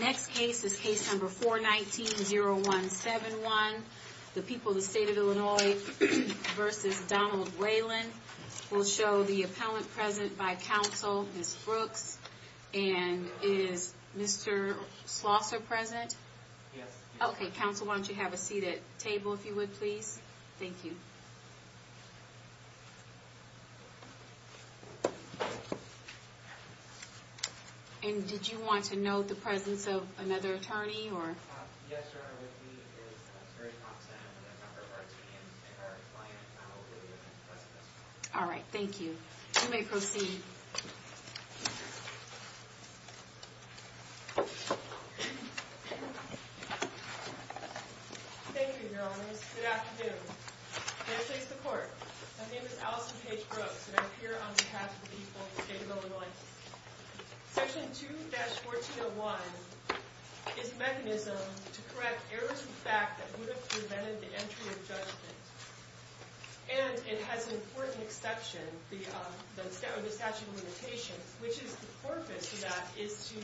Next case is case number 419-0171. The people of the state of Illinois v. Donald Whalen. We'll show the appellant present by counsel, Ms. Brooks. And is Mr. Slosser present? Yes. Okay, counsel, why don't you have a seat at the table, if you would, please? Thank you. And did you want to note the presence of another attorney, or? Yes, sir. With me is Ms. Mary Thompson and a number of our teams and our clients. All right. Thank you. You may proceed. Thank you, Your Honors. Good afternoon. May I please have the court? My name is Allison Paige Brooks, and I'm here on behalf of the people of the state of Illinois. Section 2-1401 is a mechanism to correct errors of fact that would have prevented the entry of judgment. And it has an important exception, the statute of limitations, which is the purpose of that is to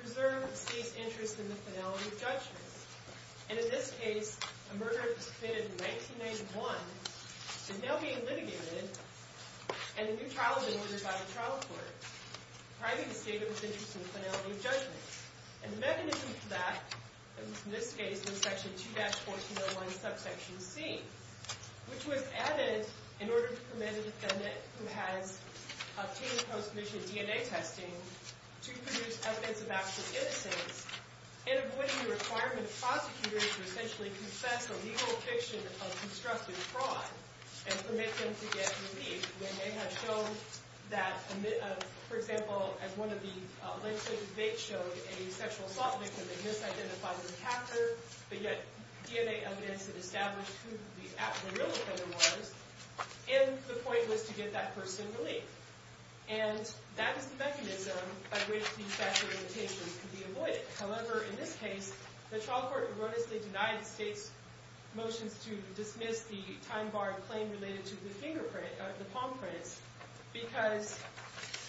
preserve the state's interest in the finality of judgment. And in this case, a murder that was committed in 1991 is now being litigated, and a new trial has been ordered by the trial court, priming the state of its interest in the finality of judgment. And the mechanism for that, in this case, was Section 2-1401, subsection C, which was added in order to permit a defendant who has obtained post-mission DNA testing to produce evidence of actual innocence, and avoiding the requirement of prosecutors to essentially confess a legal fiction of constructive fraud and permit them to get relief when they have shown that, for example, as one of the legislative debates showed, a sexual assault victim had misidentified their attacker, but yet DNA evidence had established who the real offender was, and the point was to get that person relief. And that is the mechanism by which these factual limitations could be avoided. However, in this case, the trial court erroneously denied the state's motions to dismiss the time-barred claim related to the palm prints because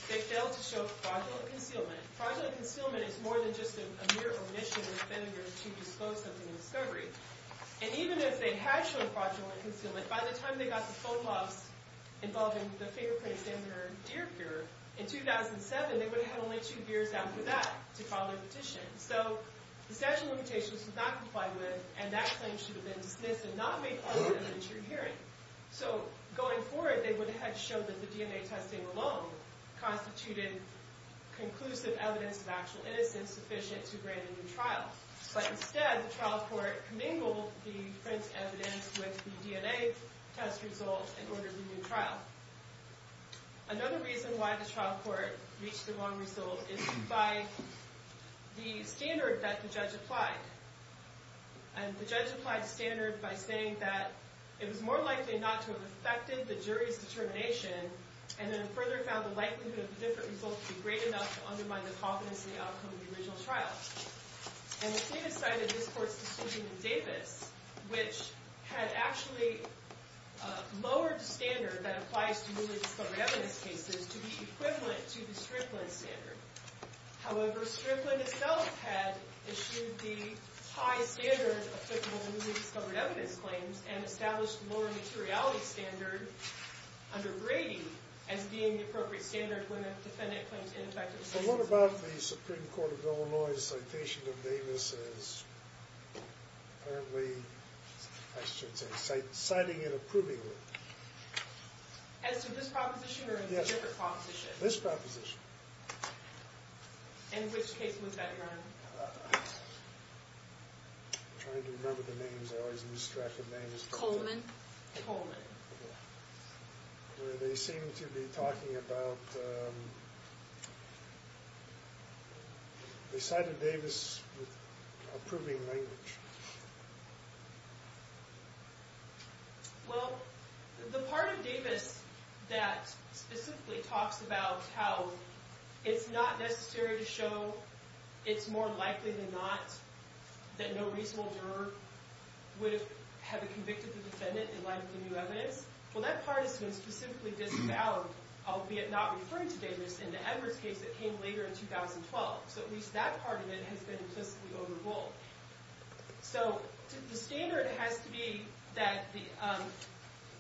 they failed to show fraudulent concealment. Fraudulent concealment is more than just a mere omission of the offender to disclose something in discovery. And even if they had shown fraudulent concealment, by the time they got the phone calls involving the fingerprints in their deer pure, in 2007, they would have had only two years out for that, to file their petition. So the statute of limitations did not comply with, and that claim should have been dismissed and not made part of a true hearing. So going forward, they would have had to show that the DNA testing alone constituted conclusive evidence of actual innocence sufficient to grant a new trial. But instead, the trial court commingled the print evidence with the DNA test result in order to do the trial. Another reason why the trial court reached the wrong result is by the standard that the judge applied. And the judge applied the standard by saying that it was more likely not to have affected the jury's determination, and then further found the likelihood of a different result to be great enough to undermine the confidence in the outcome of the original trial. And the state decided this court's decision in Davis, which had actually lowered the standard that applies to newly discovered evidence cases to be equivalent to the Strickland standard. However, Strickland itself had issued the high standard applicable to newly discovered evidence claims, and established the lower materiality standard under Brady as being the appropriate standard when a defendant claims ineffective. But what about the Supreme Court of Illinois' citation of Davis as, apparently, I shouldn't say, citing it, approving it? As to this proposition or a different proposition? This proposition. In which case was that run? I'm trying to remember the names. I always am distracted by names. Coleman? Coleman. Where they seem to be talking about, they cited Davis with approving language. Well, the part of Davis that specifically talks about how it's not necessary to show it's more likely than not that no reasonable juror would have convicted the defendant in light of the new evidence, well that part has been specifically disavowed, albeit not referring to Davis in the Edwards case that came later in 2012. So at least that part of it has been implicitly overruled. So the standard has to be that the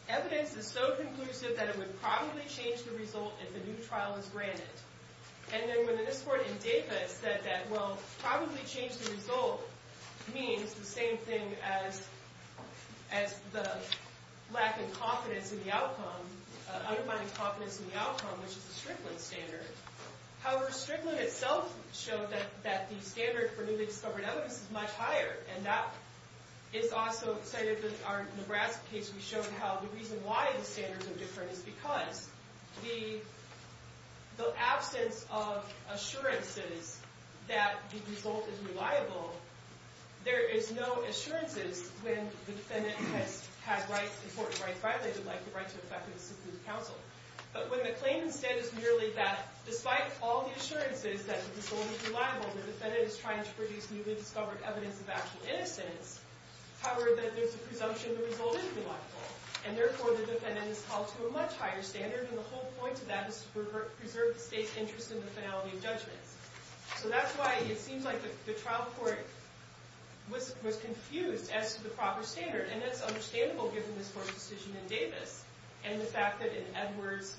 evidence is so conclusive that it would probably change the result if a new trial is granted. And then when the district court in Davis said that, well, probably change the result means the same thing as the lack of confidence in the outcome, undermining confidence in the outcome, which is the Strickland standard. However, Strickland itself showed that the standard for newly discovered evidence is much higher. And that is also cited in our Nebraska case. We showed how the reason why the standards are different is because the absence of assurances that the result is reliable, there is no assurances when the defendant has had important rights violated, like the right to effectively submit to counsel. But when the claim instead is merely that despite all the assurances that the result is reliable, the defendant is trying to produce newly discovered evidence of actual innocence, however, that there's a presumption the result is reliable. And therefore, the defendant is called to a much higher standard. And the whole point of that is to preserve the state's interest in the finality of judgment. So that's why it seems like the trial court was confused as to the proper standard. And that's understandable given this court's decision in Davis and the fact that in Edwards,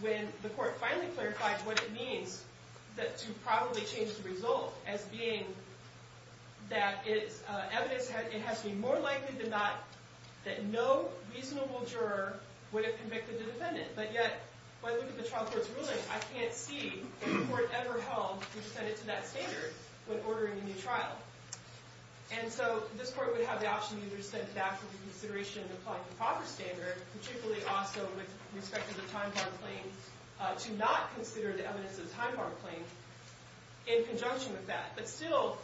when the court finally clarified what it means to probably change the result as being that it's evidence, it has to be more likely than not that no reasonable juror would have convicted the defendant. But yet, when I look at the trial court's ruling, I can't see a court ever held which set it to that standard when ordering a new trial. And so this court would have the option either to step back from the consideration and apply the proper standard, particularly also with respect to the time-barred claim, to not consider the evidence of the time-barred claim in conjunction with that. But still,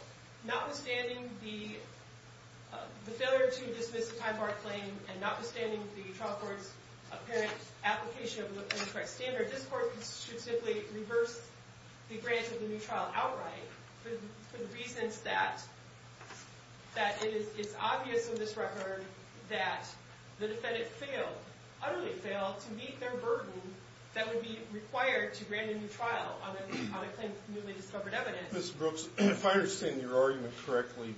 notwithstanding the failure to dismiss the time-barred claim and notwithstanding the trial court's apparent application of the correct standard, this court should simply reverse the grant of the new trial outright for the reasons that it's obvious in this record that the defendant failed, utterly failed, to meet their burden that would be required to grant a new trial on a claim of newly discovered evidence. Mr. Brooks, if I understand your argument correctly,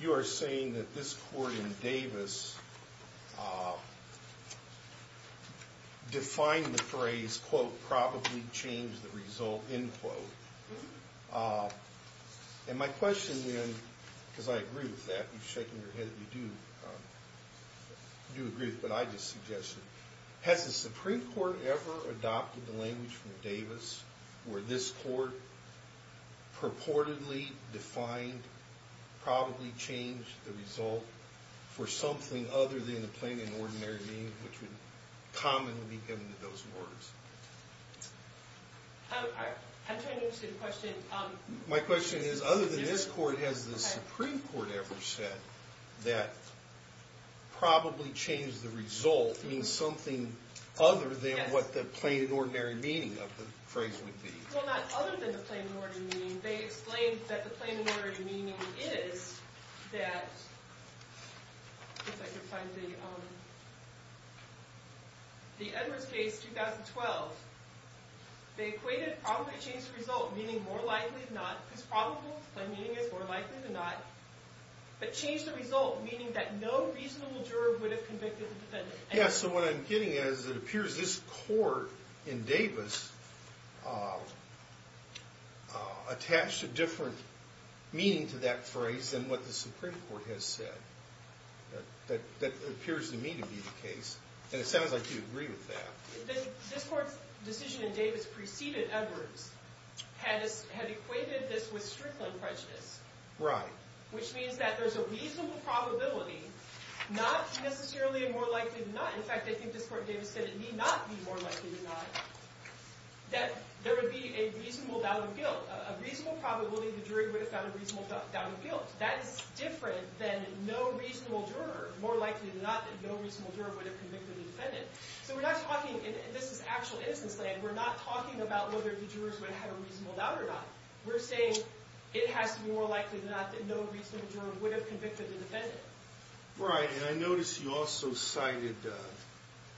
you are saying that this court in Davis defined the phrase, quote, probably changed the result, end quote. And my question then, because I agree with that, you're shaking your head, you do agree with what I just suggested, has the Supreme Court ever adopted the language from Davis where this court purportedly defined probably changed the result for something other than the plain and ordinary meaning which would commonly be given to those words? My question is, other than this court, has the Supreme Court ever said that probably changed the result means something other than what the plain and ordinary meaning of the phrase would be? Well, not other than the plain and ordinary meaning. They explained that the plain and ordinary meaning is that, if I can find the, the Edwards case 2012, they equated probably changed the result meaning more likely than not, it's probable, plain meaning is more likely than not, but changed the result meaning that no reasonable juror would have convicted the defendant. Yeah, so what I'm getting at is it appears this court in Davis attached a different meaning to that phrase than what the Supreme Court has said. That appears to me to be the case, and it sounds like you agree with that. This court's decision in Davis preceded Edwards had equated this with Strickland prejudice. Right. Which means that there's a reasonable probability, not necessarily a more likely than not. In fact, I think this court in Davis said it need not be more likely than not, that there would be a reasonable doubt of guilt. A reasonable probability the jury would have found a reasonable doubt of guilt. That is different than no reasonable juror, more likely than not, that no reasonable juror would have convicted the defendant. So we're not talking, and this is actual instance land, we're not talking about whether the jurors would have had a reasonable doubt or not. We're saying it has to be more likely than not that no reasonable juror would have convicted the defendant. Right, and I notice you also cited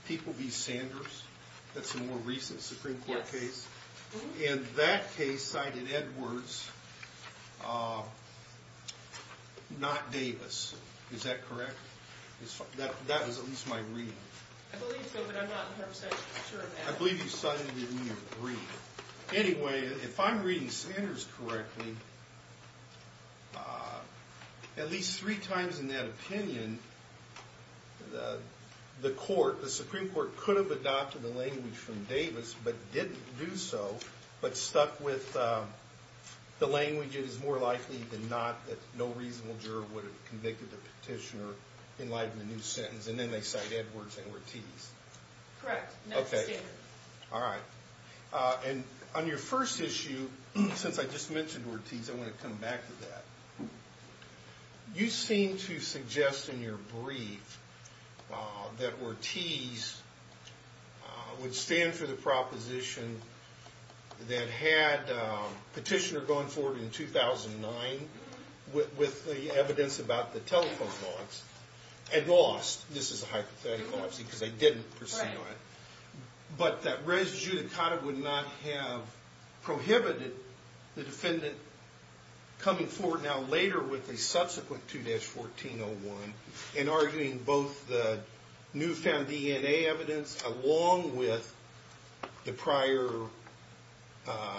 People v. Sanders. That's a more recent Supreme Court case. Yes. And that case cited Edwards, not Davis. Is that correct? That is at least my reading. I believe so, but I'm not 100% sure of that. I believe you cited it in your reading. Anyway, if I'm reading Sanders correctly, at least three times in that opinion, the Supreme Court could have adopted the language from Davis, but didn't do so, but stuck with the language, it is more likely than not that no reasonable juror would have convicted the petitioner in light of the new sentence, and then they cite Edwards and we're teased. Correct. Okay. All right. And on your first issue, since I just mentioned we're teased, I want to come back to that. You seem to suggest in your brief that we're teased would stand for the proposition that had petitioner going forward in 2009 with the evidence about the telephone logs and lost. This is a hypothetical, obviously, because they didn't proceed on it. Right. But that res judicata would not have prohibited the defendant coming forward now later with a subsequent 2-1401 in arguing both the newfound DNA evidence, along with the prior,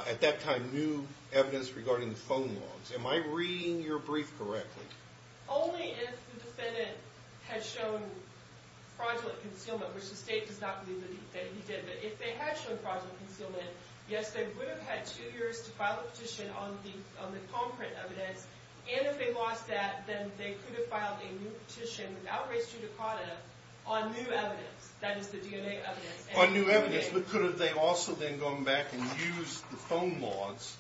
at that time, new evidence regarding the phone logs. Am I reading your brief correctly? Only if the defendant had shown fraudulent concealment, which the state does not believe that he did, but if they had shown fraudulent concealment, yes, they would have had two years to file a petition on the palm print evidence, and if they lost that, then they could have filed a new petition without res judicata on new evidence, that is the DNA evidence. On new evidence, but could have they also then gone back and used the phone logs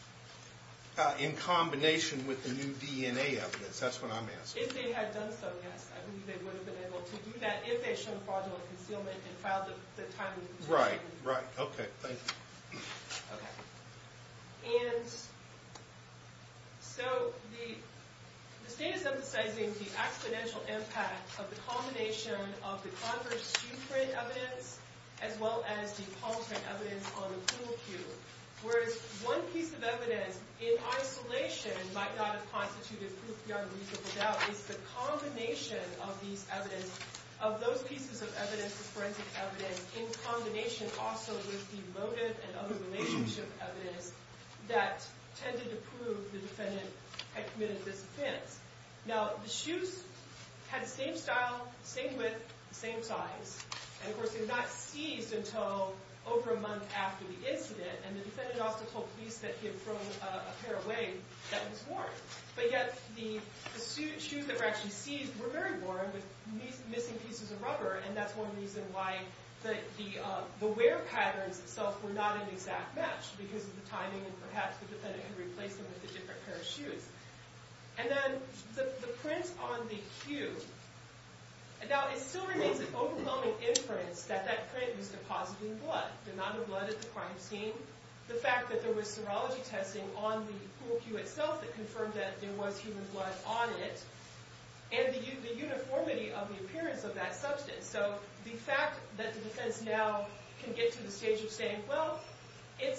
in combination with the new DNA evidence? That's what I'm asking. If they had done so, yes. I believe they would have been able to do that if they had shown fraudulent concealment and filed the timely petition. Right, right. Okay, thank you. Okay. And so the state is emphasizing the accidental impact of the combination of the converse Q-print evidence as well as the palm print evidence on the pool cue, whereas one piece of evidence in isolation might not have constituted proof beyond reasonable doubt is the combination of those pieces of forensic evidence in combination also with the motive and other relationship evidence that tended to prove the defendant had committed this offense. Now, the shoes had the same style, same width, same size, and of course they were not seized until over a month after the incident, and the defendant also told police that he had thrown a pair away that was worn, but yet the shoes that were actually seized were very worn with missing pieces of rubber, and that's one reason why the wear patterns itself were not an exact match because of the timing and perhaps the defendant could replace them with a different pair of shoes. And then the print on the cue, now it still remains an overwhelming inference that that print was depositing blood. The amount of blood at the crime scene, the fact that there was serology testing on the pool cue itself that confirmed that there was human blood on it, and the uniformity of the appearance of that substance. So the fact that the defense now can get to the stage of saying, well, it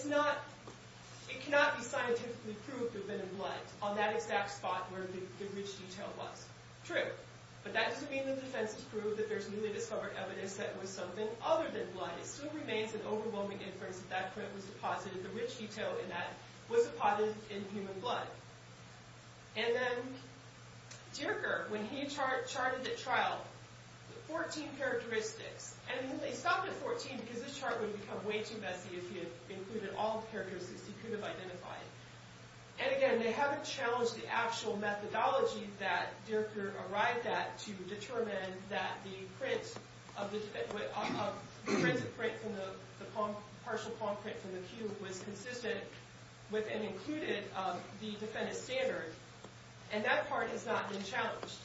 cannot be scientifically proved to have been in blood on that exact spot where the rich detail was. True, but that doesn't mean the defense has proved that there's newly discovered evidence that it was something other than blood. It still remains an overwhelming inference that that print was deposited, the rich detail in that was deposited in human blood. And then Dierker, when he charted at trial, 14 characteristics, and they stopped at 14 because this chart would become way too messy if you included all the characteristics you could have identified. And again, they haven't challenged the actual methodology that Dierker arrived at to determine that the printed print from the partial palm print from the cue was consistent with and included the defendant's standard. And that part has not been challenged.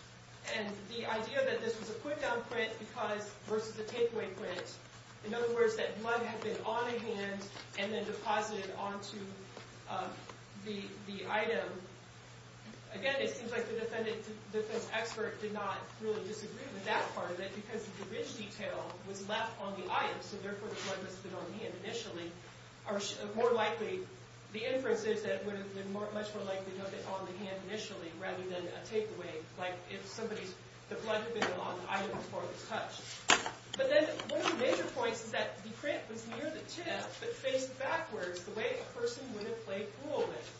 And the idea that this was a put-down print versus a takeaway print, in other words, that blood had been on a hand and then deposited onto the item, again, it seems like the defense expert did not really disagree with that part that because the rich detail was left on the item, so therefore the blood must have been on the hand initially, the inference is that it would have been much more likely to have been on the hand initially rather than a takeaway, like if the blood had been on the item before it was touched. But then one of the major points is that the print was near the tip but faced backwards the way a person would have played pool with.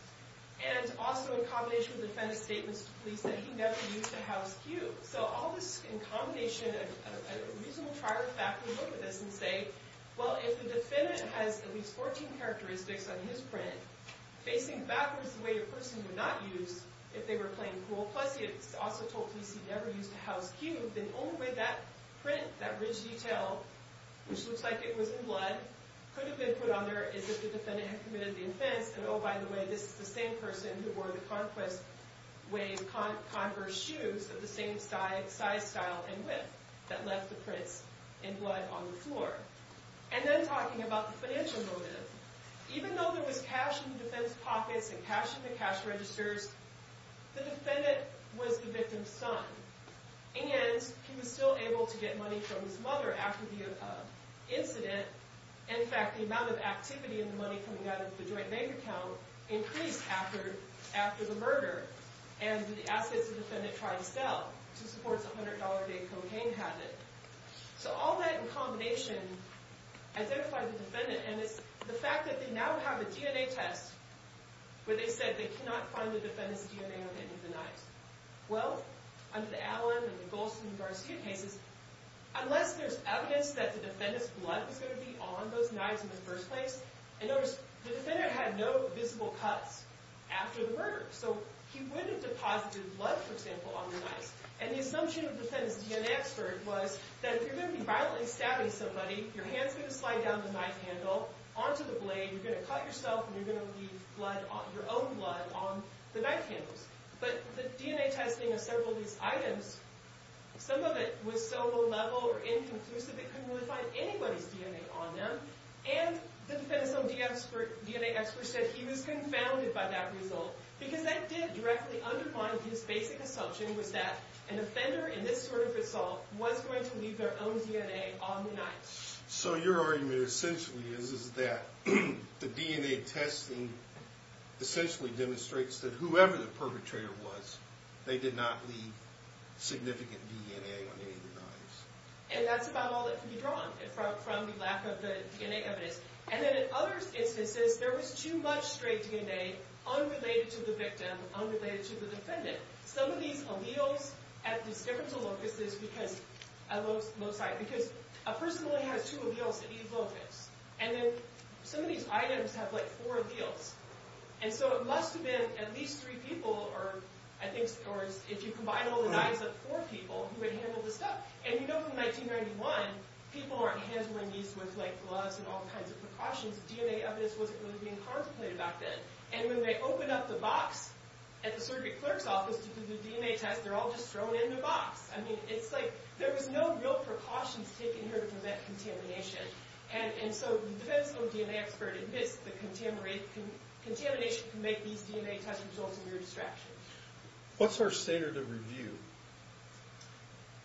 And also in combination with the defendant's statements to police that he never used a house cue. So all this in combination, a reasonable trial of fact, we look at this and say, well, if the defendant has at least 14 characteristics on his print facing backwards the way a person would not use if they were playing pool, plus he also told police he never used a house cue, then only way that print, that rich detail, which looks like it was in blood, could have been put on there is if the defendant had committed the offense and, oh, by the way, this is the same person who wore the Conquest Wave Conqueror shoes of the same size, style, and width that left the prints in blood on the floor. And then talking about the financial motive, even though there was cash in the defense pockets and cash in the cash registers, the defendant was the victim's son and he was still able to get money from his mother after the incident. In fact, the amount of activity in the money coming out of the joint bank account increased after the murder and the assets the defendant tried to sell to support his $100-a-day cocaine habit. So all that in combination identified the defendant and it's the fact that they now have a DNA test where they said they cannot find the defendant's DNA on any of the knives. Well, under the Allen and the Golston and Garcia cases, unless there's evidence that the defendant's blood was going to be on those knives in the first place, and notice the defendant had no visible cuts after the murder, so he wouldn't have deposited blood, for example, on the knives. And the assumption of the defendant's DNA expert was that if you're going to be violently stabbing somebody, your hand's going to slide down the knife handle, onto the blade, you're going to cut yourself, and you're going to leave your own blood on the knife handles. But the DNA testing of several of these items, some of it was so low-level or inconclusive it couldn't really find anybody's DNA on them, and the defendant's own DNA expert said he was confounded by that result because that did directly undermine his basic assumption was that an offender in this sort of assault was going to leave their own DNA on the knives. So your argument essentially is that the DNA testing essentially demonstrates that whoever the perpetrator was, they did not leave significant DNA on any of the knives. And that's about all that can be drawn from the lack of the DNA evidence. And then in other instances, there was too much stray DNA unrelated to the victim, unrelated to the defendant. Some of these alleles at these differental locuses because a person only has two alleles at each locus. And then some of these items have, like, four alleles. And so it must have been at least three people, or I think if you combine all the knives up, four people, who had handled the stuff. And you know from 1991, people aren't handling these with, like, gloves and all kinds of precautions. DNA evidence wasn't really being contemplated back then. And when they open up the box at the surgery clerk's office to do the DNA test, they're all just thrown in the box. I mean, it's like there was no real precautions taken here to prevent contamination. And so the defendant's own DNA expert admits that contamination can make these DNA test results a mere distraction. What's our standard of review?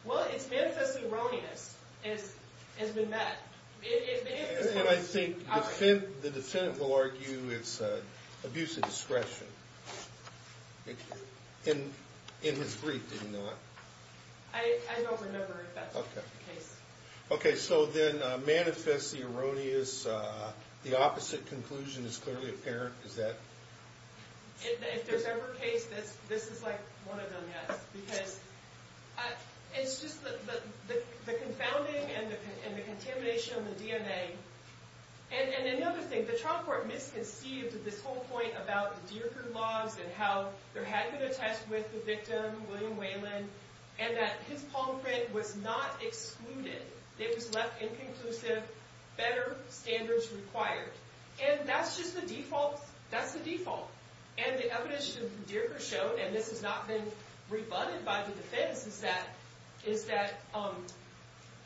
Well, it's manifestly erroneous, as we met. And I think the defendant will argue it's abuse of discretion. In his brief, did he not? I don't remember if that's the case. Okay, so then manifestly erroneous, the opposite conclusion is clearly apparent. Is that...? If there's ever a case, this is, like, one of them, yes. Because it's just the confounding and the contamination of the DNA. And another thing, the trial court misconceived this whole point about the Dierker laws and how there had been a test with the victim, William Whelan, and that his palm print was not excluded. It was left inconclusive. Better standards required. And that's just the default. That's the default. And the evidence that Dierker showed, and this has not been rebutted by the defense, is that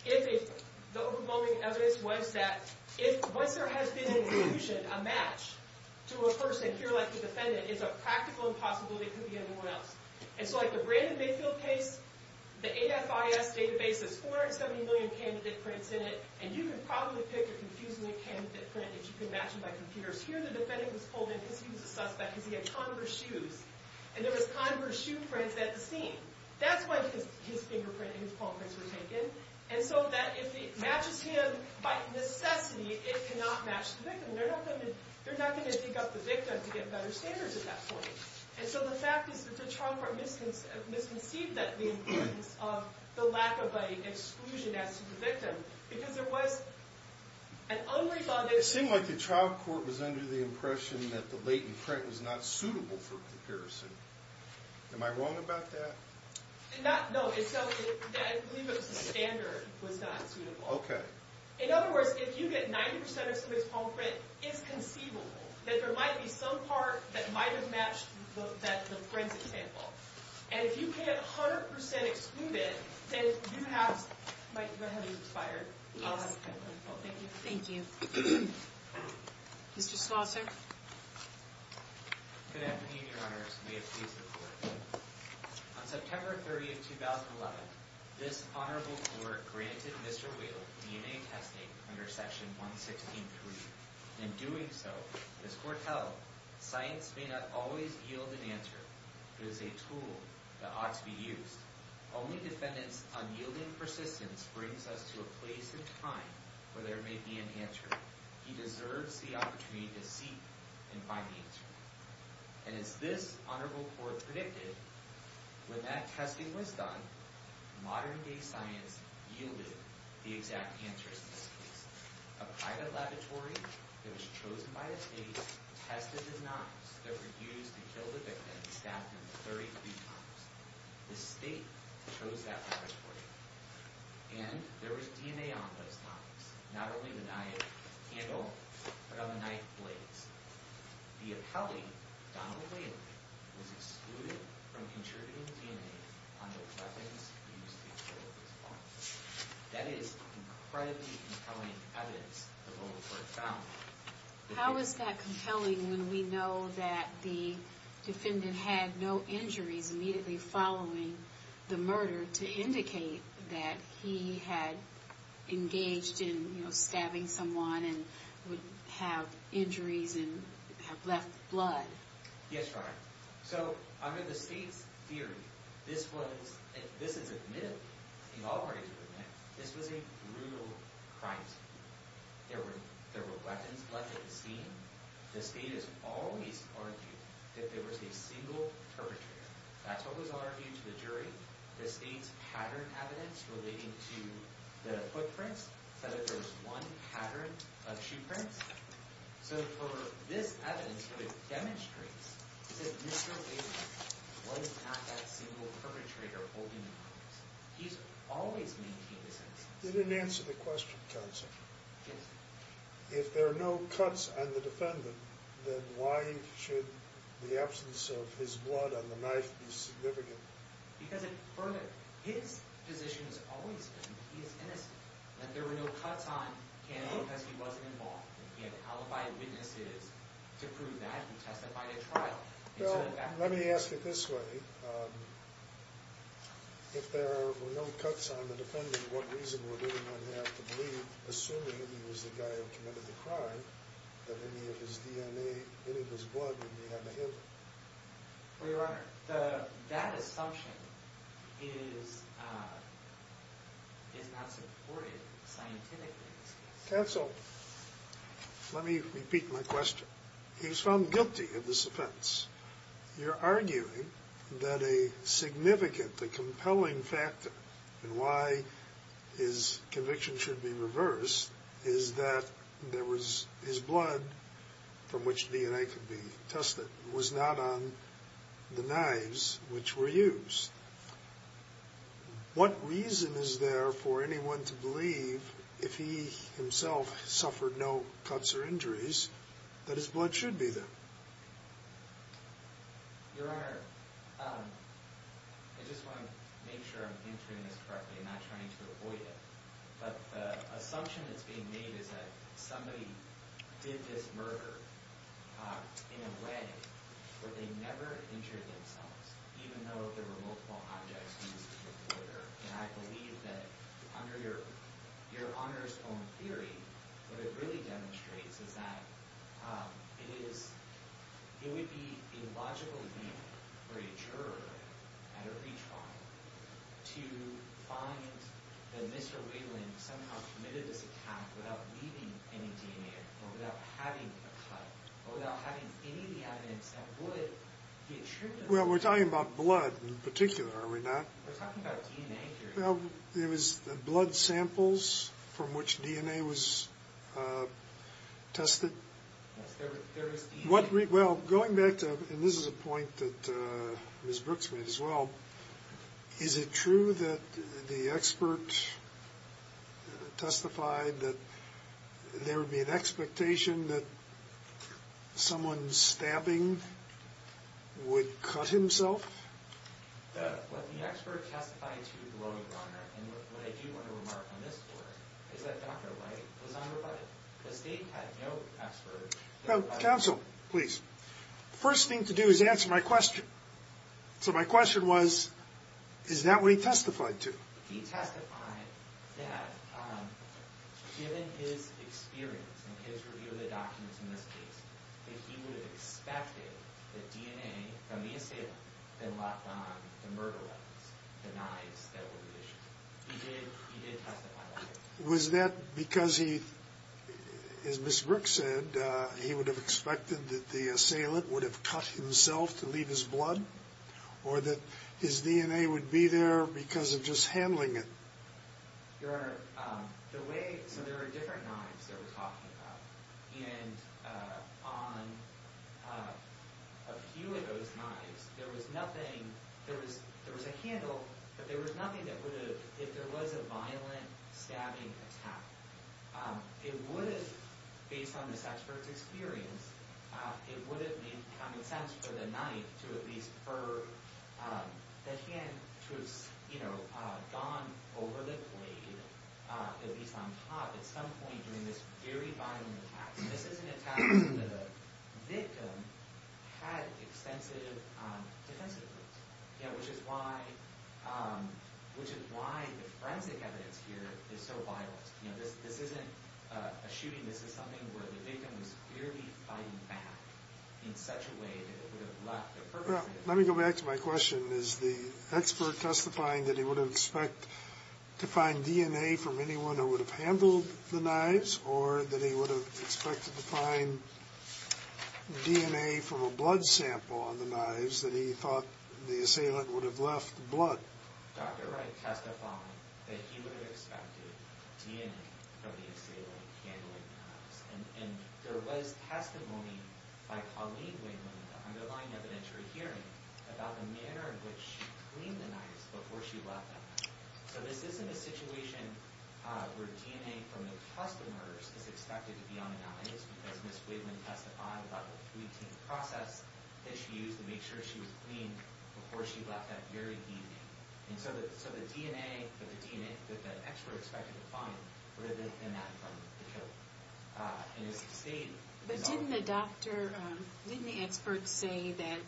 if the overwhelming evidence was that once there has been an inclusion, a match, to a person here like the defendant, it's a practical impossibility it could be anyone else. And so, like, the Brandon Mayfield case, the AFIS database has 470 million candidate prints in it, and you can probably pick a confusingly candidate print if you can match them by computers. Here, the defendant was pulled in because he was a suspect, because he had converse shoes. And there was converse shoe prints at the scene. That's when his fingerprint and his palm prints were taken. And so that, if it matches him by necessity, it cannot match the victim. They're not going to dig up the victim to get better standards at that point. And so the fact is that the trial court misconceived the importance of the lack of exclusion as to the victim, because there was an unrebutted... It seemed like the trial court was under the impression that the latent print was not suitable for comparison. Am I wrong about that? Not... No, it's not... I believe it was the standard was not suitable. Okay. In other words, if you get 90% of someone's palm print, it's conceivable that there might be some part that might have matched the friend's example. And if you can't 100% exclude it, then you have... My head is expired. Thank you. Thank you. Mr. Schlosser. Good afternoon, Your Honors. May it please the Court. On September 30, 2011, this Honorable Court granted Mr. Whale DNA testing under Section 116.3. In doing so, this Court held, science may not always yield an answer. It is a tool that ought to be used. Only defendants' unyielding persistence brings us to a place in time where there may be an answer. He deserves the opportunity to seek and find the answer. And as this Honorable Court predicted, when that testing was done, modern-day science yielded the exact answers to this case. A private laboratory that was chosen by the state tested the knives that were used to kill the victim and stabbed him 33 times. The state chose that laboratory. And there was DNA on those knives. Not only the knife handle, but on the knife blades. The appellee, Donald Whaley, was excluded from contributing DNA on the weapons used to kill this man. That is incredibly compelling evidence the Honorable Court found. How is that compelling when we know that the defendant had no injuries immediately following the murder to indicate that he had engaged in stabbing someone and would have injuries and have left blood? Yes, Your Honor. So, under the state's theory, this is admittedly, and all parties would admit, this was a brutal crime scene. There were weapons left at the scene. The state has always argued that there was a single perpetrator. That's what was argued to the jury. The state's pattern evidence relating to the footprints said that there was one pattern of shoe prints. So, for this evidence, what it demonstrates is that Mr. Whaley was not that single perpetrator holding the weapons. He's always maintained this evidence. You didn't answer the question, counsel. Yes. If there are no cuts on the defendant, then why should the absence of his blood on the knife be significant? Because his position has always been that he is innocent, that there were no cuts on him because he wasn't involved. He had alibi witnesses to prove that. He testified at trial. Well, let me ask it this way. If there were no cuts on the defendant, what reason would anyone have to believe, assuming he was the guy who committed the crime, that any of his DNA, any of his blood would be on the hip? Well, Your Honor, that assumption is not supported scientifically in this case. Counsel, let me repeat my question. He was found guilty of this offense. You're arguing that a significantly compelling factor in why his conviction should be reversed is that there was his blood, from which DNA could be tested, was not on the knives which were used. What reason is there for anyone to believe, if he himself suffered no cuts or injuries, that his blood should be there? Your Honor, I just want to make sure I'm answering this correctly and not trying to avoid it. But the assumption that's being made is that somebody did this murder in a way where they never injured themselves, even though there were multiple objects used in the murder. And I believe that, under Your Honor's own theory, what it really demonstrates is that it would be a logical thing for a juror at a reach bond to find that Mr. Whelan somehow committed this attack without leaving any DNA or without having a cut or without having any of the evidence that would get true. Well, we're talking about blood in particular, are we not? We're talking about DNA here. Well, it was blood samples from which DNA was tested? Yes, there was DNA. Well, going back to, and this is a point that Ms. Brooks made as well, is it true that the expert testified that there would be an expectation that someone stabbing would cut himself? What the expert testified to, Your Honor, and what I do want to remark on this for, is that Dr. White was unrebutted. The state had no expert. Counsel, please. First thing to do is answer my question. So my question was, is that what he testified to? He testified that given his experience and his review of the documents in this case, that he would have expected that DNA from the assailant had locked on the murder weapons, the knives that were issued. He did testify that way. Was that because he, as Ms. Brooks said, he would have expected that the assailant would have cut himself to leave his blood, or that his DNA would be there because of just handling it? Your Honor, the way, so there are different knives that we're talking about. And on a few of those knives, there was nothing, there was a handle, but there was nothing that would have, if there was a violent stabbing attack, it would have, based on this expert's experience, it would have made common sense for the knife to at least, for the hand to have gone over the blade, at least on top, at some point during this very violent attack. This is an attack that a victim had extensive defensive groups, which is why the forensic evidence here is so violent. This isn't a shooting. This is something where the victim was clearly fighting back in such a way that it would have left a purpose. Let me go back to my question. Is the expert testifying that he would have expected to find DNA from anyone who would have handled the knives, or that he would have expected to find DNA from a blood sample on the knives that he thought the assailant would have left the blood? Dr. Wright testified that he would have expected DNA from the assailant handling the knives, and there was testimony by Colleen Wayman in the underlying evidentiary hearing about the manner in which she cleaned the knives before she left them. So this isn't a situation where DNA from the customers is expected to be on the knives, because Ms. Wayman testified about the three-team process that she used to make sure she was clean before she left that very evening. And so the DNA that the expert expected to find would have been that from the killer. But didn't the doctor, didn't the expert say that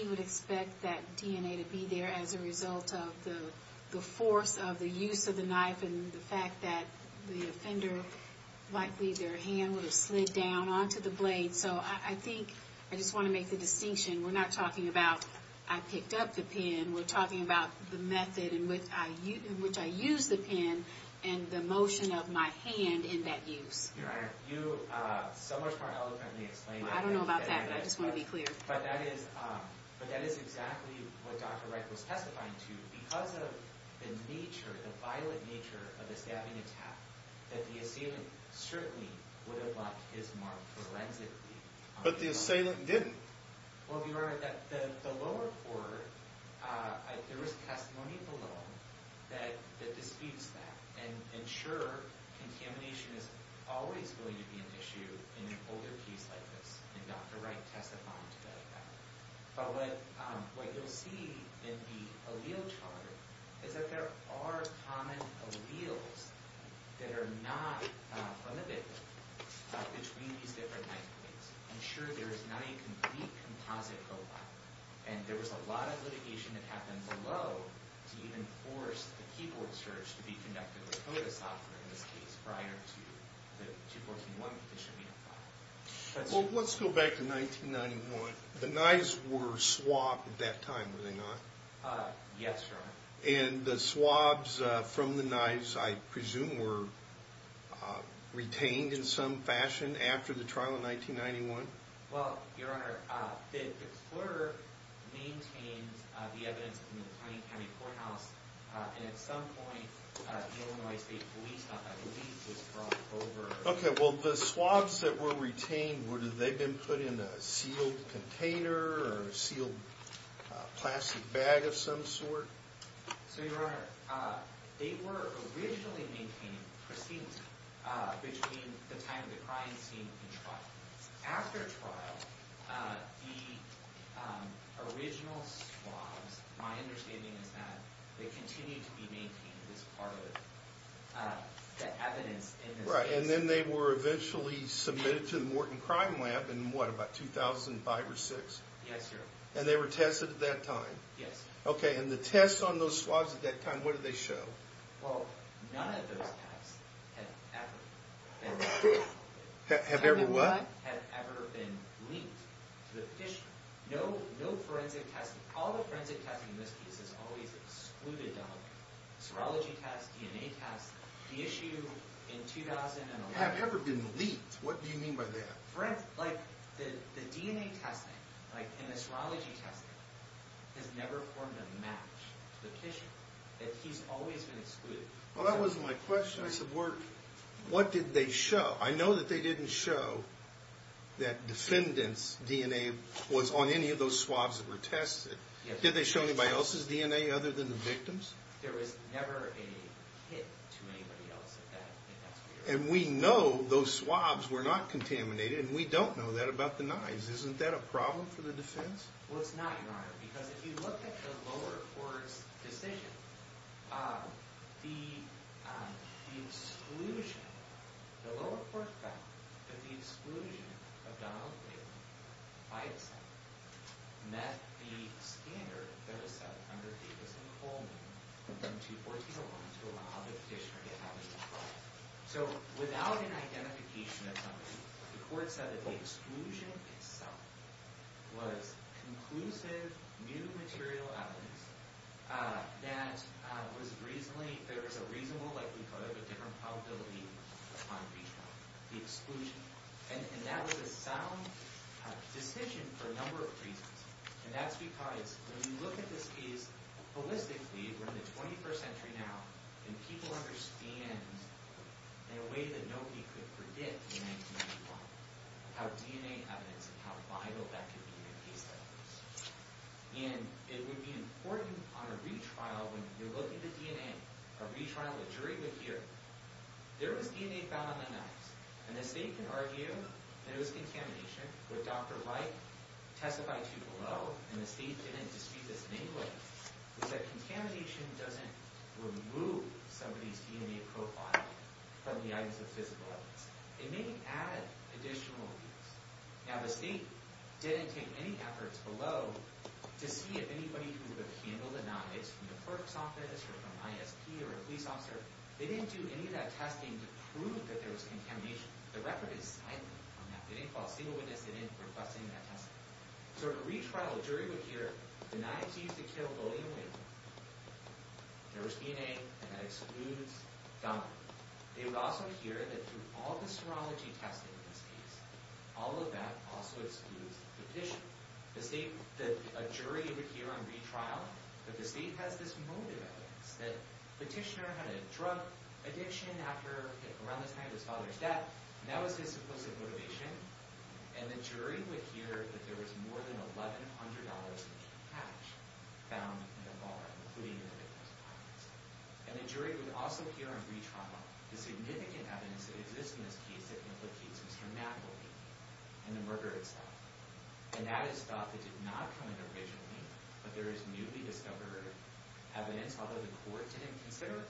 he would expect that DNA to be there as a result of the force of the use of the knife and the fact that the offender, likely their hand would have slid down onto the blade? So I think, I just want to make the distinction, we're not talking about I picked up the pen, we're talking about the method in which I used the pen and the motion of my hand in that use. Your Honor, you so much more eloquently explained it. I don't know about that, but I just want to be clear. But that is exactly what Dr. Wright was testifying to. Because of the nature, the violent nature of the stabbing attack, that the assailant certainly would have left his mark forensically. But the assailant didn't. Well, Your Honor, the lower court, there was testimony below that disputes that and ensure contamination is always going to be an issue in an older case like this. And Dr. Wright testified to that. But what you'll see in the allele chart is that there are common alleles that are not unabated between these different knife points. I'm sure there's not a complete composite profile. And there was a lot of litigation that happened below to even force the keyboard search to be conducted with CODA software in this case prior to the 214-1 petition being filed. Well, let's go back to 1991. The knives were swapped at that time, were they not? Yes, Your Honor. And the swabs from the knives, I presume, were retained in some fashion after the trial in 1991? Well, Your Honor, the explorer maintained the evidence in the county courthouse. And at some point, the Illinois State Police, not that police, was brought over. Okay, well, the swabs that were retained, were they then put in a sealed container or a sealed plastic bag of some sort? So, Your Honor, they were originally maintained, proceeded between the time of the crime scene and trial. After trial, the original swabs, my understanding is that they continue to be maintained as part of the evidence in this case. That's right, and then they were eventually submitted to the Morton Crime Lab in what, about 2005 or 2006? Yes, Your Honor. And they were tested at that time? Yes. Okay, and the tests on those swabs at that time, what did they show? Well, none of those tests have ever been linked. Have ever what? None of them have ever been linked to the petition. The issue in 2011. Have ever been leaked, what do you mean by that? Right, like, the DNA testing and the serology testing has never formed a match to the petition. That he's always been excluded. Well, that wasn't my question. I said, what did they show? I know that they didn't show that defendant's DNA was on any of those swabs that were tested. Did they show anybody else's DNA other than the victim's? There was never a hit to anybody else at that time. And we know those swabs were not contaminated, and we don't know that about the knives. Isn't that a problem for the defense? Well, it's not, Your Honor, because if you look at the lower court's decision, the exclusion, the lower court found that the exclusion of Donald Glaben, by itself, met the standard that was set under Davis and Coleman in 2014 to allow the petitioner to have his trial. So, without an identification of somebody, the court said that the exclusion itself was conclusive, new material evidence that was reasonably, there was a reasonable likelihood of a different probability upon retrial. The exclusion. And that was a sound decision for a number of reasons. And that's because, when you look at this case, holistically, we're in the 21st century now, and people understand, in a way that nobody could predict in 1995, how DNA evidence and how vital that could be in a case like this. And it would be important, upon a retrial, when you look at the DNA, a retrial, a jury would hear, there was DNA found on the knives. And the state could argue that it was contamination, but Dr. Wright testified to below, and the state didn't dispute this in any way, was that contamination doesn't remove somebody's DNA profile from the items of physical evidence. It may add additional evidence. Now, the state didn't take any efforts below to see if anybody who would have handled the knives, from the clerk's office or from ISP or a police officer, they didn't do any of that testing to prove that there was contamination. The record is silent on that. They didn't call a single witness. They didn't request any of that testing. So, in a retrial, a jury would hear, the knives used to kill William Wade, there was DNA, and that excludes Donovan. They would also hear that through all the serology testing in this case, all of that also excludes the petitioner. A jury would hear on retrial that the state has this motive evidence, that the petitioner had a drug addiction around the time of his father's death, and that was his supposed motivation. And the jury would hear that there was more than $1,100 in cash found in the bar, including the victim's pockets. And the jury would also hear on retrial the significant evidence that exists in this case that implicates Mr. McAuley and the murder itself. And that is stuff that did not come in originally, but there is newly discovered evidence, although the court didn't consider it.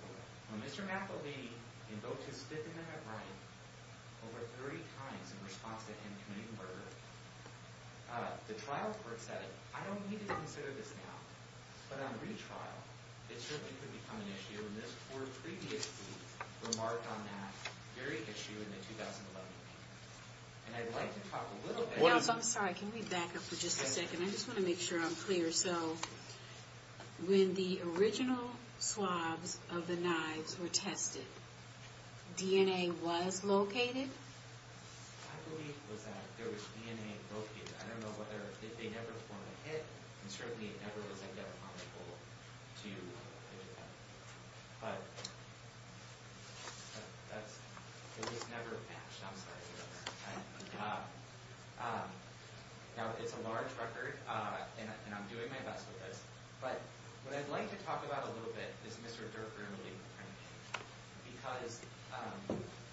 When Mr. McAuley invoked his stipend in that right over 30 times in response to him committing the murder, the trial court said, I don't need to consider this now. But on retrial, it certainly could become an issue, and this court previously remarked on that very issue in the 2011 case. And I'd like to talk a little bit about that. I'm sorry, can we back up for just a second? I just want to make sure I'm clear. So when the original swabs of the knives were tested, DNA was located? I believe it was that there was DNA located. I don't know if they never performed a hit, and certainly it never was a death on the pole to the defendant. But it was never matched. I'm sorry. Now, it's a large record, and I'm doing my best with this. But what I'd like to talk about a little bit is Mr. Durfner and Lee McAuley, because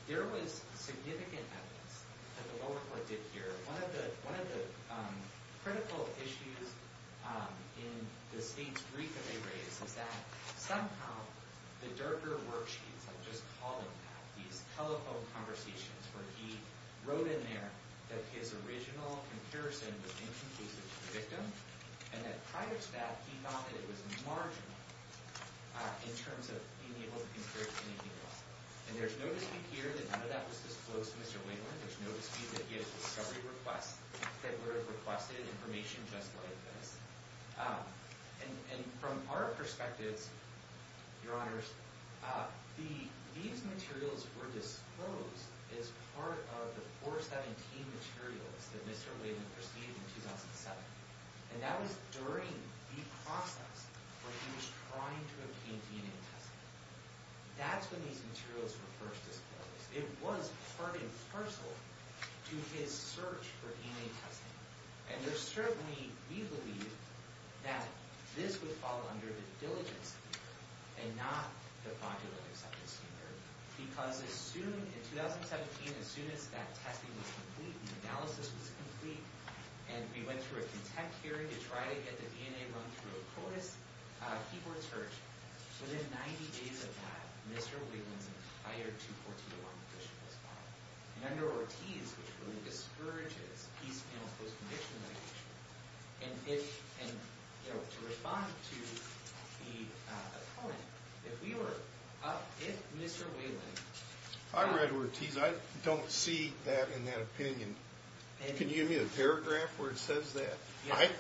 there was significant evidence that the lower court did here. One of the critical issues in the state's brief that they raised is that somehow the Durfner worksheets, I'll just call them that, these telephone conversations, where he wrote in there that his original comparison was inconclusive to the victim, and that prior to that, he thought that it was marginal in terms of being able to compare to anything else. And there's no dispute here that none of that was disclosed to Mr. Wingler. There's no dispute that he had a discovery request that would have requested information just like this. And from our perspectives, Your Honors, these materials were disclosed as part of the 417 materials that Mr. Wingler received in 2007. And that was during the process where he was trying to obtain DNA testing. That's when these materials were first disclosed. It was part and parcel to his search for DNA testing. And there's certainly, we believe, that this would fall under the diligence and not the popular acceptance standard, because as soon, in 2017, as soon as that testing was complete and analysis was complete, and we went through a content hearing to try to get the DNA run through a CODIS keyboard search, within 90 days of that, Mr. Wayland's entire 214 competition was filed. And under Ortiz, which really discourages peace panel post-conviction litigation, and if, you know, to respond to the opponent, if we were, if Mr. Wayland... I read Ortiz. I don't see that in that opinion. Can you give me the paragraph where it says that?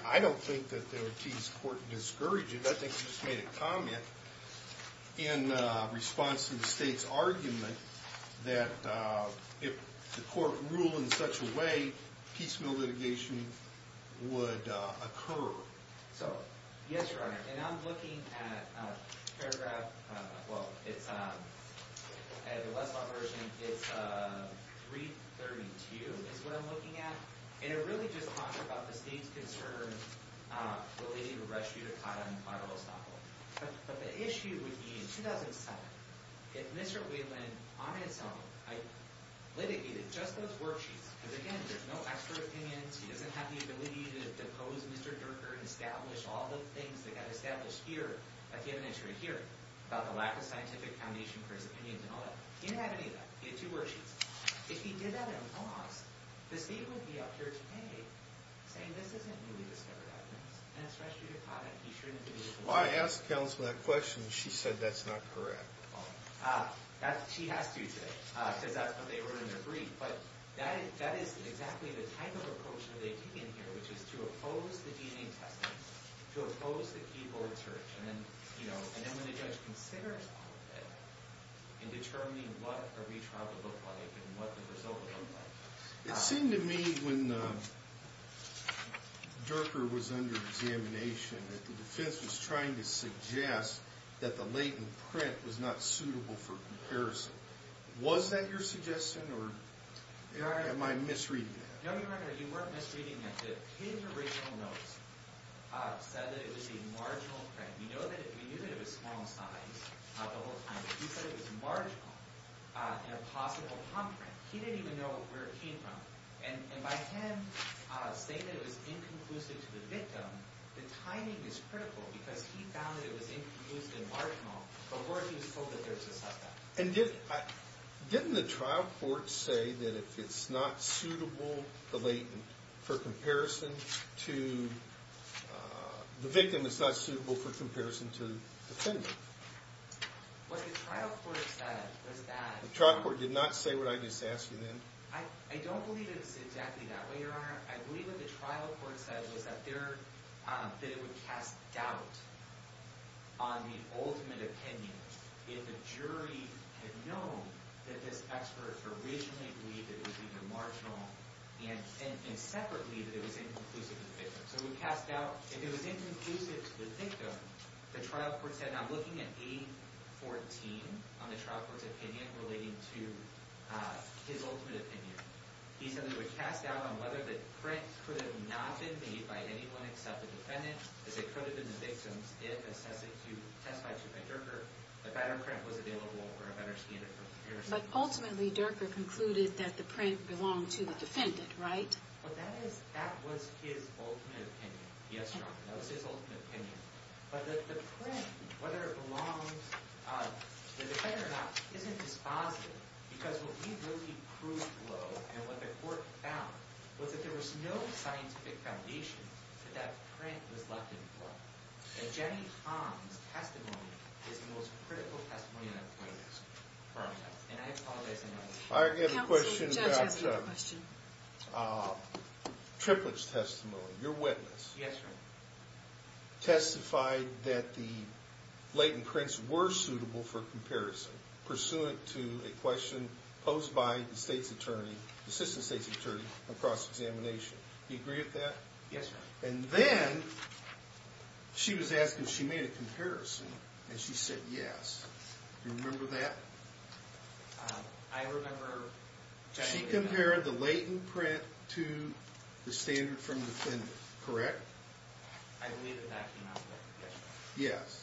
I don't think that Ortiz's court discouraged it. I think he just made a comment in response to the state's argument that if the court ruled in such a way, peace mill litigation would occur. So, yes, Your Honor, and I'm looking at paragraph, well, it's, at the Westlaw version, it's 332 is what I'm looking at. And it really just talks about the state's concern relating to the rest of Utah and part of Oslo. But the issue would be, in 2007, if Mr. Wayland, on his own, litigated just those worksheets, because, again, there's no expert opinions, he doesn't have the ability to depose Mr. Durker and establish all the things that got established here at the evidentiary hearing about the lack of scientific foundation for his opinions and all that. He didn't have any of that. He had two worksheets. If he did that at a loss, the state would be up here today saying, this isn't newly discovered evidence, and it's restricted content. He shouldn't be able to do that. Why ask counsel that question? She said that's not correct. She has to today, because that's what they wrote in their brief. But that is exactly the type of approach that they've taken here, which is to oppose the DNA testing, to oppose the keyboard search. And then when the judge considers all of that, in determining what a retrial would look like and what the result would look like. It seemed to me, when Durker was under examination, that the defense was trying to suggest that the latent print was not suitable for comparison. Was that your suggestion, or am I misreading that? No, Your Honor, you weren't misreading that. His original notes said that it was a marginal print. We knew that it was small size the whole time, but he said it was marginal and a possible palm print. He didn't even know where it came from. And by him saying that it was inconclusive to the victim, the timing is critical, because he found that it was inconclusive and marginal before he was told that there was a suspect. And didn't the trial court say that if it's not suitable, the victim is not suitable for comparison to the defendant? What the trial court said was that... The trial court did not say what I just asked you then? I don't believe it's exactly that way, Your Honor. I believe what the trial court said was that it would cast doubt on the ultimate opinion if the jury had known that this expert originally believed that it was either marginal and separately that it was inconclusive to the victim. So it would cast doubt. If it was inconclusive to the victim, the trial court said... I'm looking at A14 on the trial court's opinion relating to his ultimate opinion. He said it would cast doubt on whether the print could have not been made by anyone except the defendant, as it could have been the victim's, if, as testified to by Durker, a better print was available or a better standard for comparison. But ultimately, Durker concluded that the print belonged to the defendant, right? Well, that was his ultimate opinion. Yes, Your Honor, that was his ultimate opinion. But the print, whether it belongs to the defendant or not, isn't as positive, because what he really proved, though, and what the court found, was that there was no scientific foundation that that print was left in place. And Jenny Tom's testimony is the most critical testimony I've witnessed. And I apologize in advance. I have a question about Triplett's testimony, your witness. Yes, Your Honor. Testified that the latent prints were suitable for comparison, pursuant to a question posed by the state's attorney, the assistant state's attorney, on cross-examination. Do you agree with that? Yes, Your Honor. And then she was asking if she made a comparison, and she said yes. Do you remember that? I remember Jenny... She compared the latent print to the standard from the defendant, correct? I believe that that came out of that question. Yes.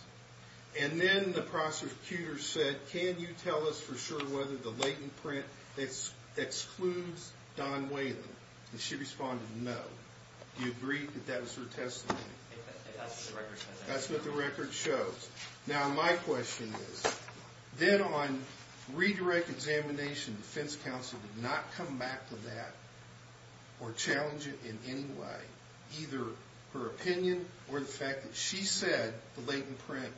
And then the prosecutor said, can you tell us for sure whether the latent print excludes Don Whalen? And she responded no. Do you agree that that was her testimony? That's what the record shows. That's what the record shows. Now, my question is, then on redirect examination, defense counsel did not come back with that or challenge it in any way, either her opinion or the fact that she said the latent print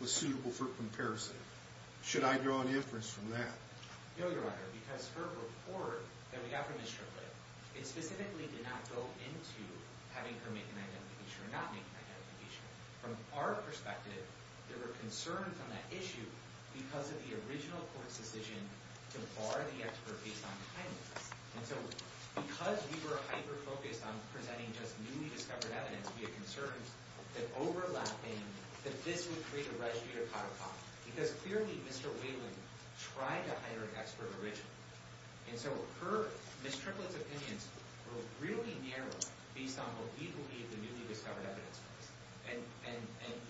was suitable for comparison. Should I draw an inference from that? No, Your Honor, because her report that we got from Ms. Strickland, it specifically did not go into having her make an identification or not make an identification. From our perspective, there were concerns on that issue because of the original court's decision to bar the expert based on kindness. And so because we were hyper-focused on presenting just newly discovered evidence, we had concerns that overlapping, that this would create a residue to codify. Because clearly, Mr. Whalen tried to hire an expert originally. And so Ms. Strickland's opinions were really narrow based on what we believe the newly discovered evidence was. And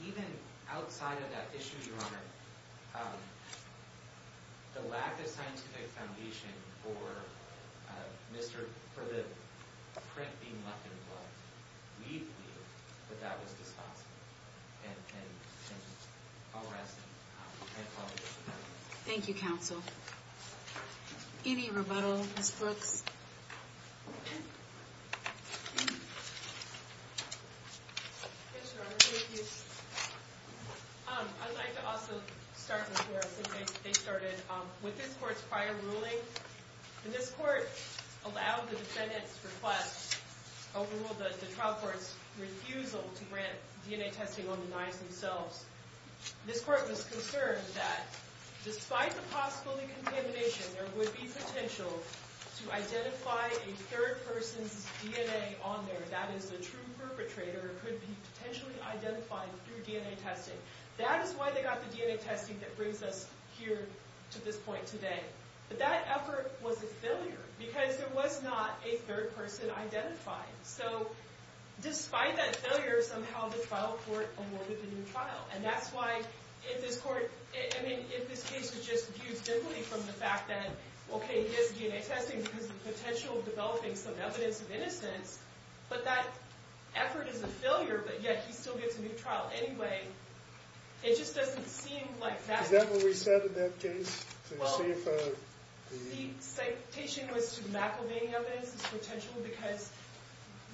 even outside of that issue, Your Honor, the lack of scientific foundation for the print being left in place, we believe that that was dispossessed. And I'll rest and apologize for that. Thank you, counsel. Any rebuttal, Ms. Brooks? Yes, Your Honor, thank you. I'd like to also start with where I think they started. With this court's prior ruling, this court allowed the defendant's request overruled the trial court's refusal to grant DNA testing on the knives themselves. This court was concerned that despite the possibility of contamination, there would be potential to identify a third person's DNA on there. That is, a true perpetrator could be potentially identified through DNA testing. That is why they got the DNA testing that brings us here to this point today. But that effort was a failure, because there was not a third person identified. So despite that failure, somehow the trial court awarded the new trial. And that's why, if this case was just viewed simply from the fact that, okay, he has DNA testing because of the potential of developing some evidence of innocence, but that effort is a failure, but yet he still gets a new trial anyway, it just doesn't seem like that's... Is that what we said in that case? The citation was to McElvain evidence as potential, because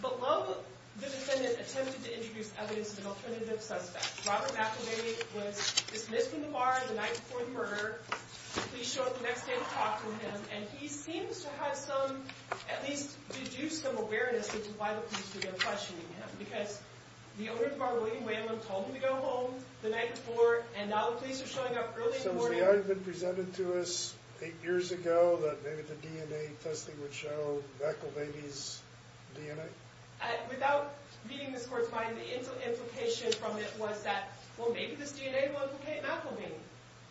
below the defendant attempted to introduce evidence of an alternative suspect. Robert McElvain was dismissed from the bar the night before the murder. The police showed up the next day to talk to him, and he seems to have some, at least deduced some awareness as to why the police are questioning him. Because the owner of the bar, William Whalum, told him to go home the night before, and now the police are showing up early in the morning. So was the argument presented to us eight years ago that maybe the DNA testing would show McElvain's DNA? Without meeting this court's mind, the implication from it was that, well, maybe this DNA will implicate McElvain,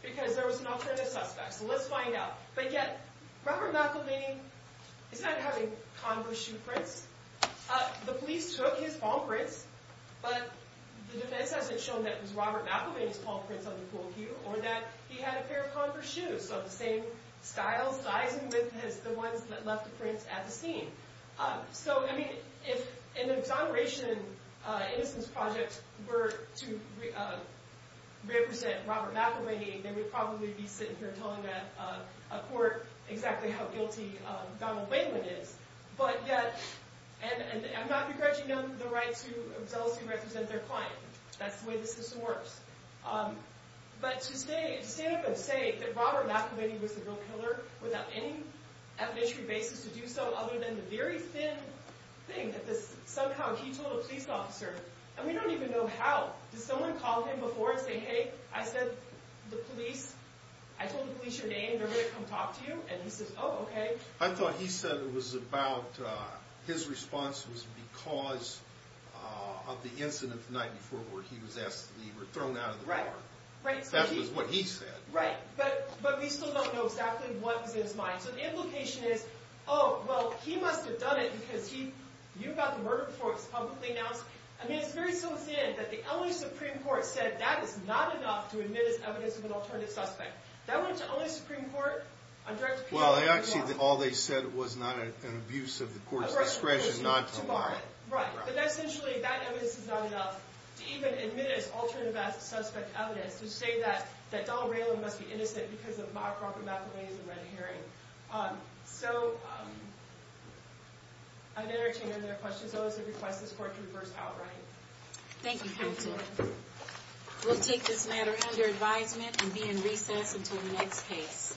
because there was an alternative suspect. So let's find out. But yet, Robert McElvain is not having Converse shoe prints. The police took his palm prints, but the defense hasn't shown that it was Robert McElvain's palm prints on the pool cue, or that he had a pair of Converse shoes of the same style, sizing with the ones that left the prints at the scene. So, I mean, if an exoneration innocence project were to represent Robert McElvain, they would probably be sitting here telling a court exactly how guilty Donald Layland is. But yet, and I'm not begrudging them the right to zealously represent their client. That's the way the system works. But to stand up and say that Robert McElvain was the real killer without any ethnicity basis to do so, other than the very thin thing that somehow he told a police officer, and we don't even know how. Did someone call him before and say, hey, I said the police, I told the police your name, they're going to come talk to you? And he says, oh, okay. I thought he said it was about, his response was because of the incident the night before where he was asked to leave or thrown out of the car. Right, right. That was what he said. Right, but we still don't know exactly what was in his mind. So the implication is, oh, well, he must have done it because he knew about the murder before it was publicly announced. I mean, it's very so thin that the LA Supreme Court said that is not enough to admit as evidence of an alternative suspect. That went to LA Supreme Court on direct appeal. Well, actually, all they said was not an abuse of the court's discretion not to lie. Right, but essentially, that evidence is not enough to even admit as alternative suspect evidence to say that Donald Rayland must be innocent because of myocardial methamphetamine and red herring. So, I've entertained other questions. I would like to request this court to reverse outright. Thank you, counsel. We'll take this matter under advisement and be in recess until the next case.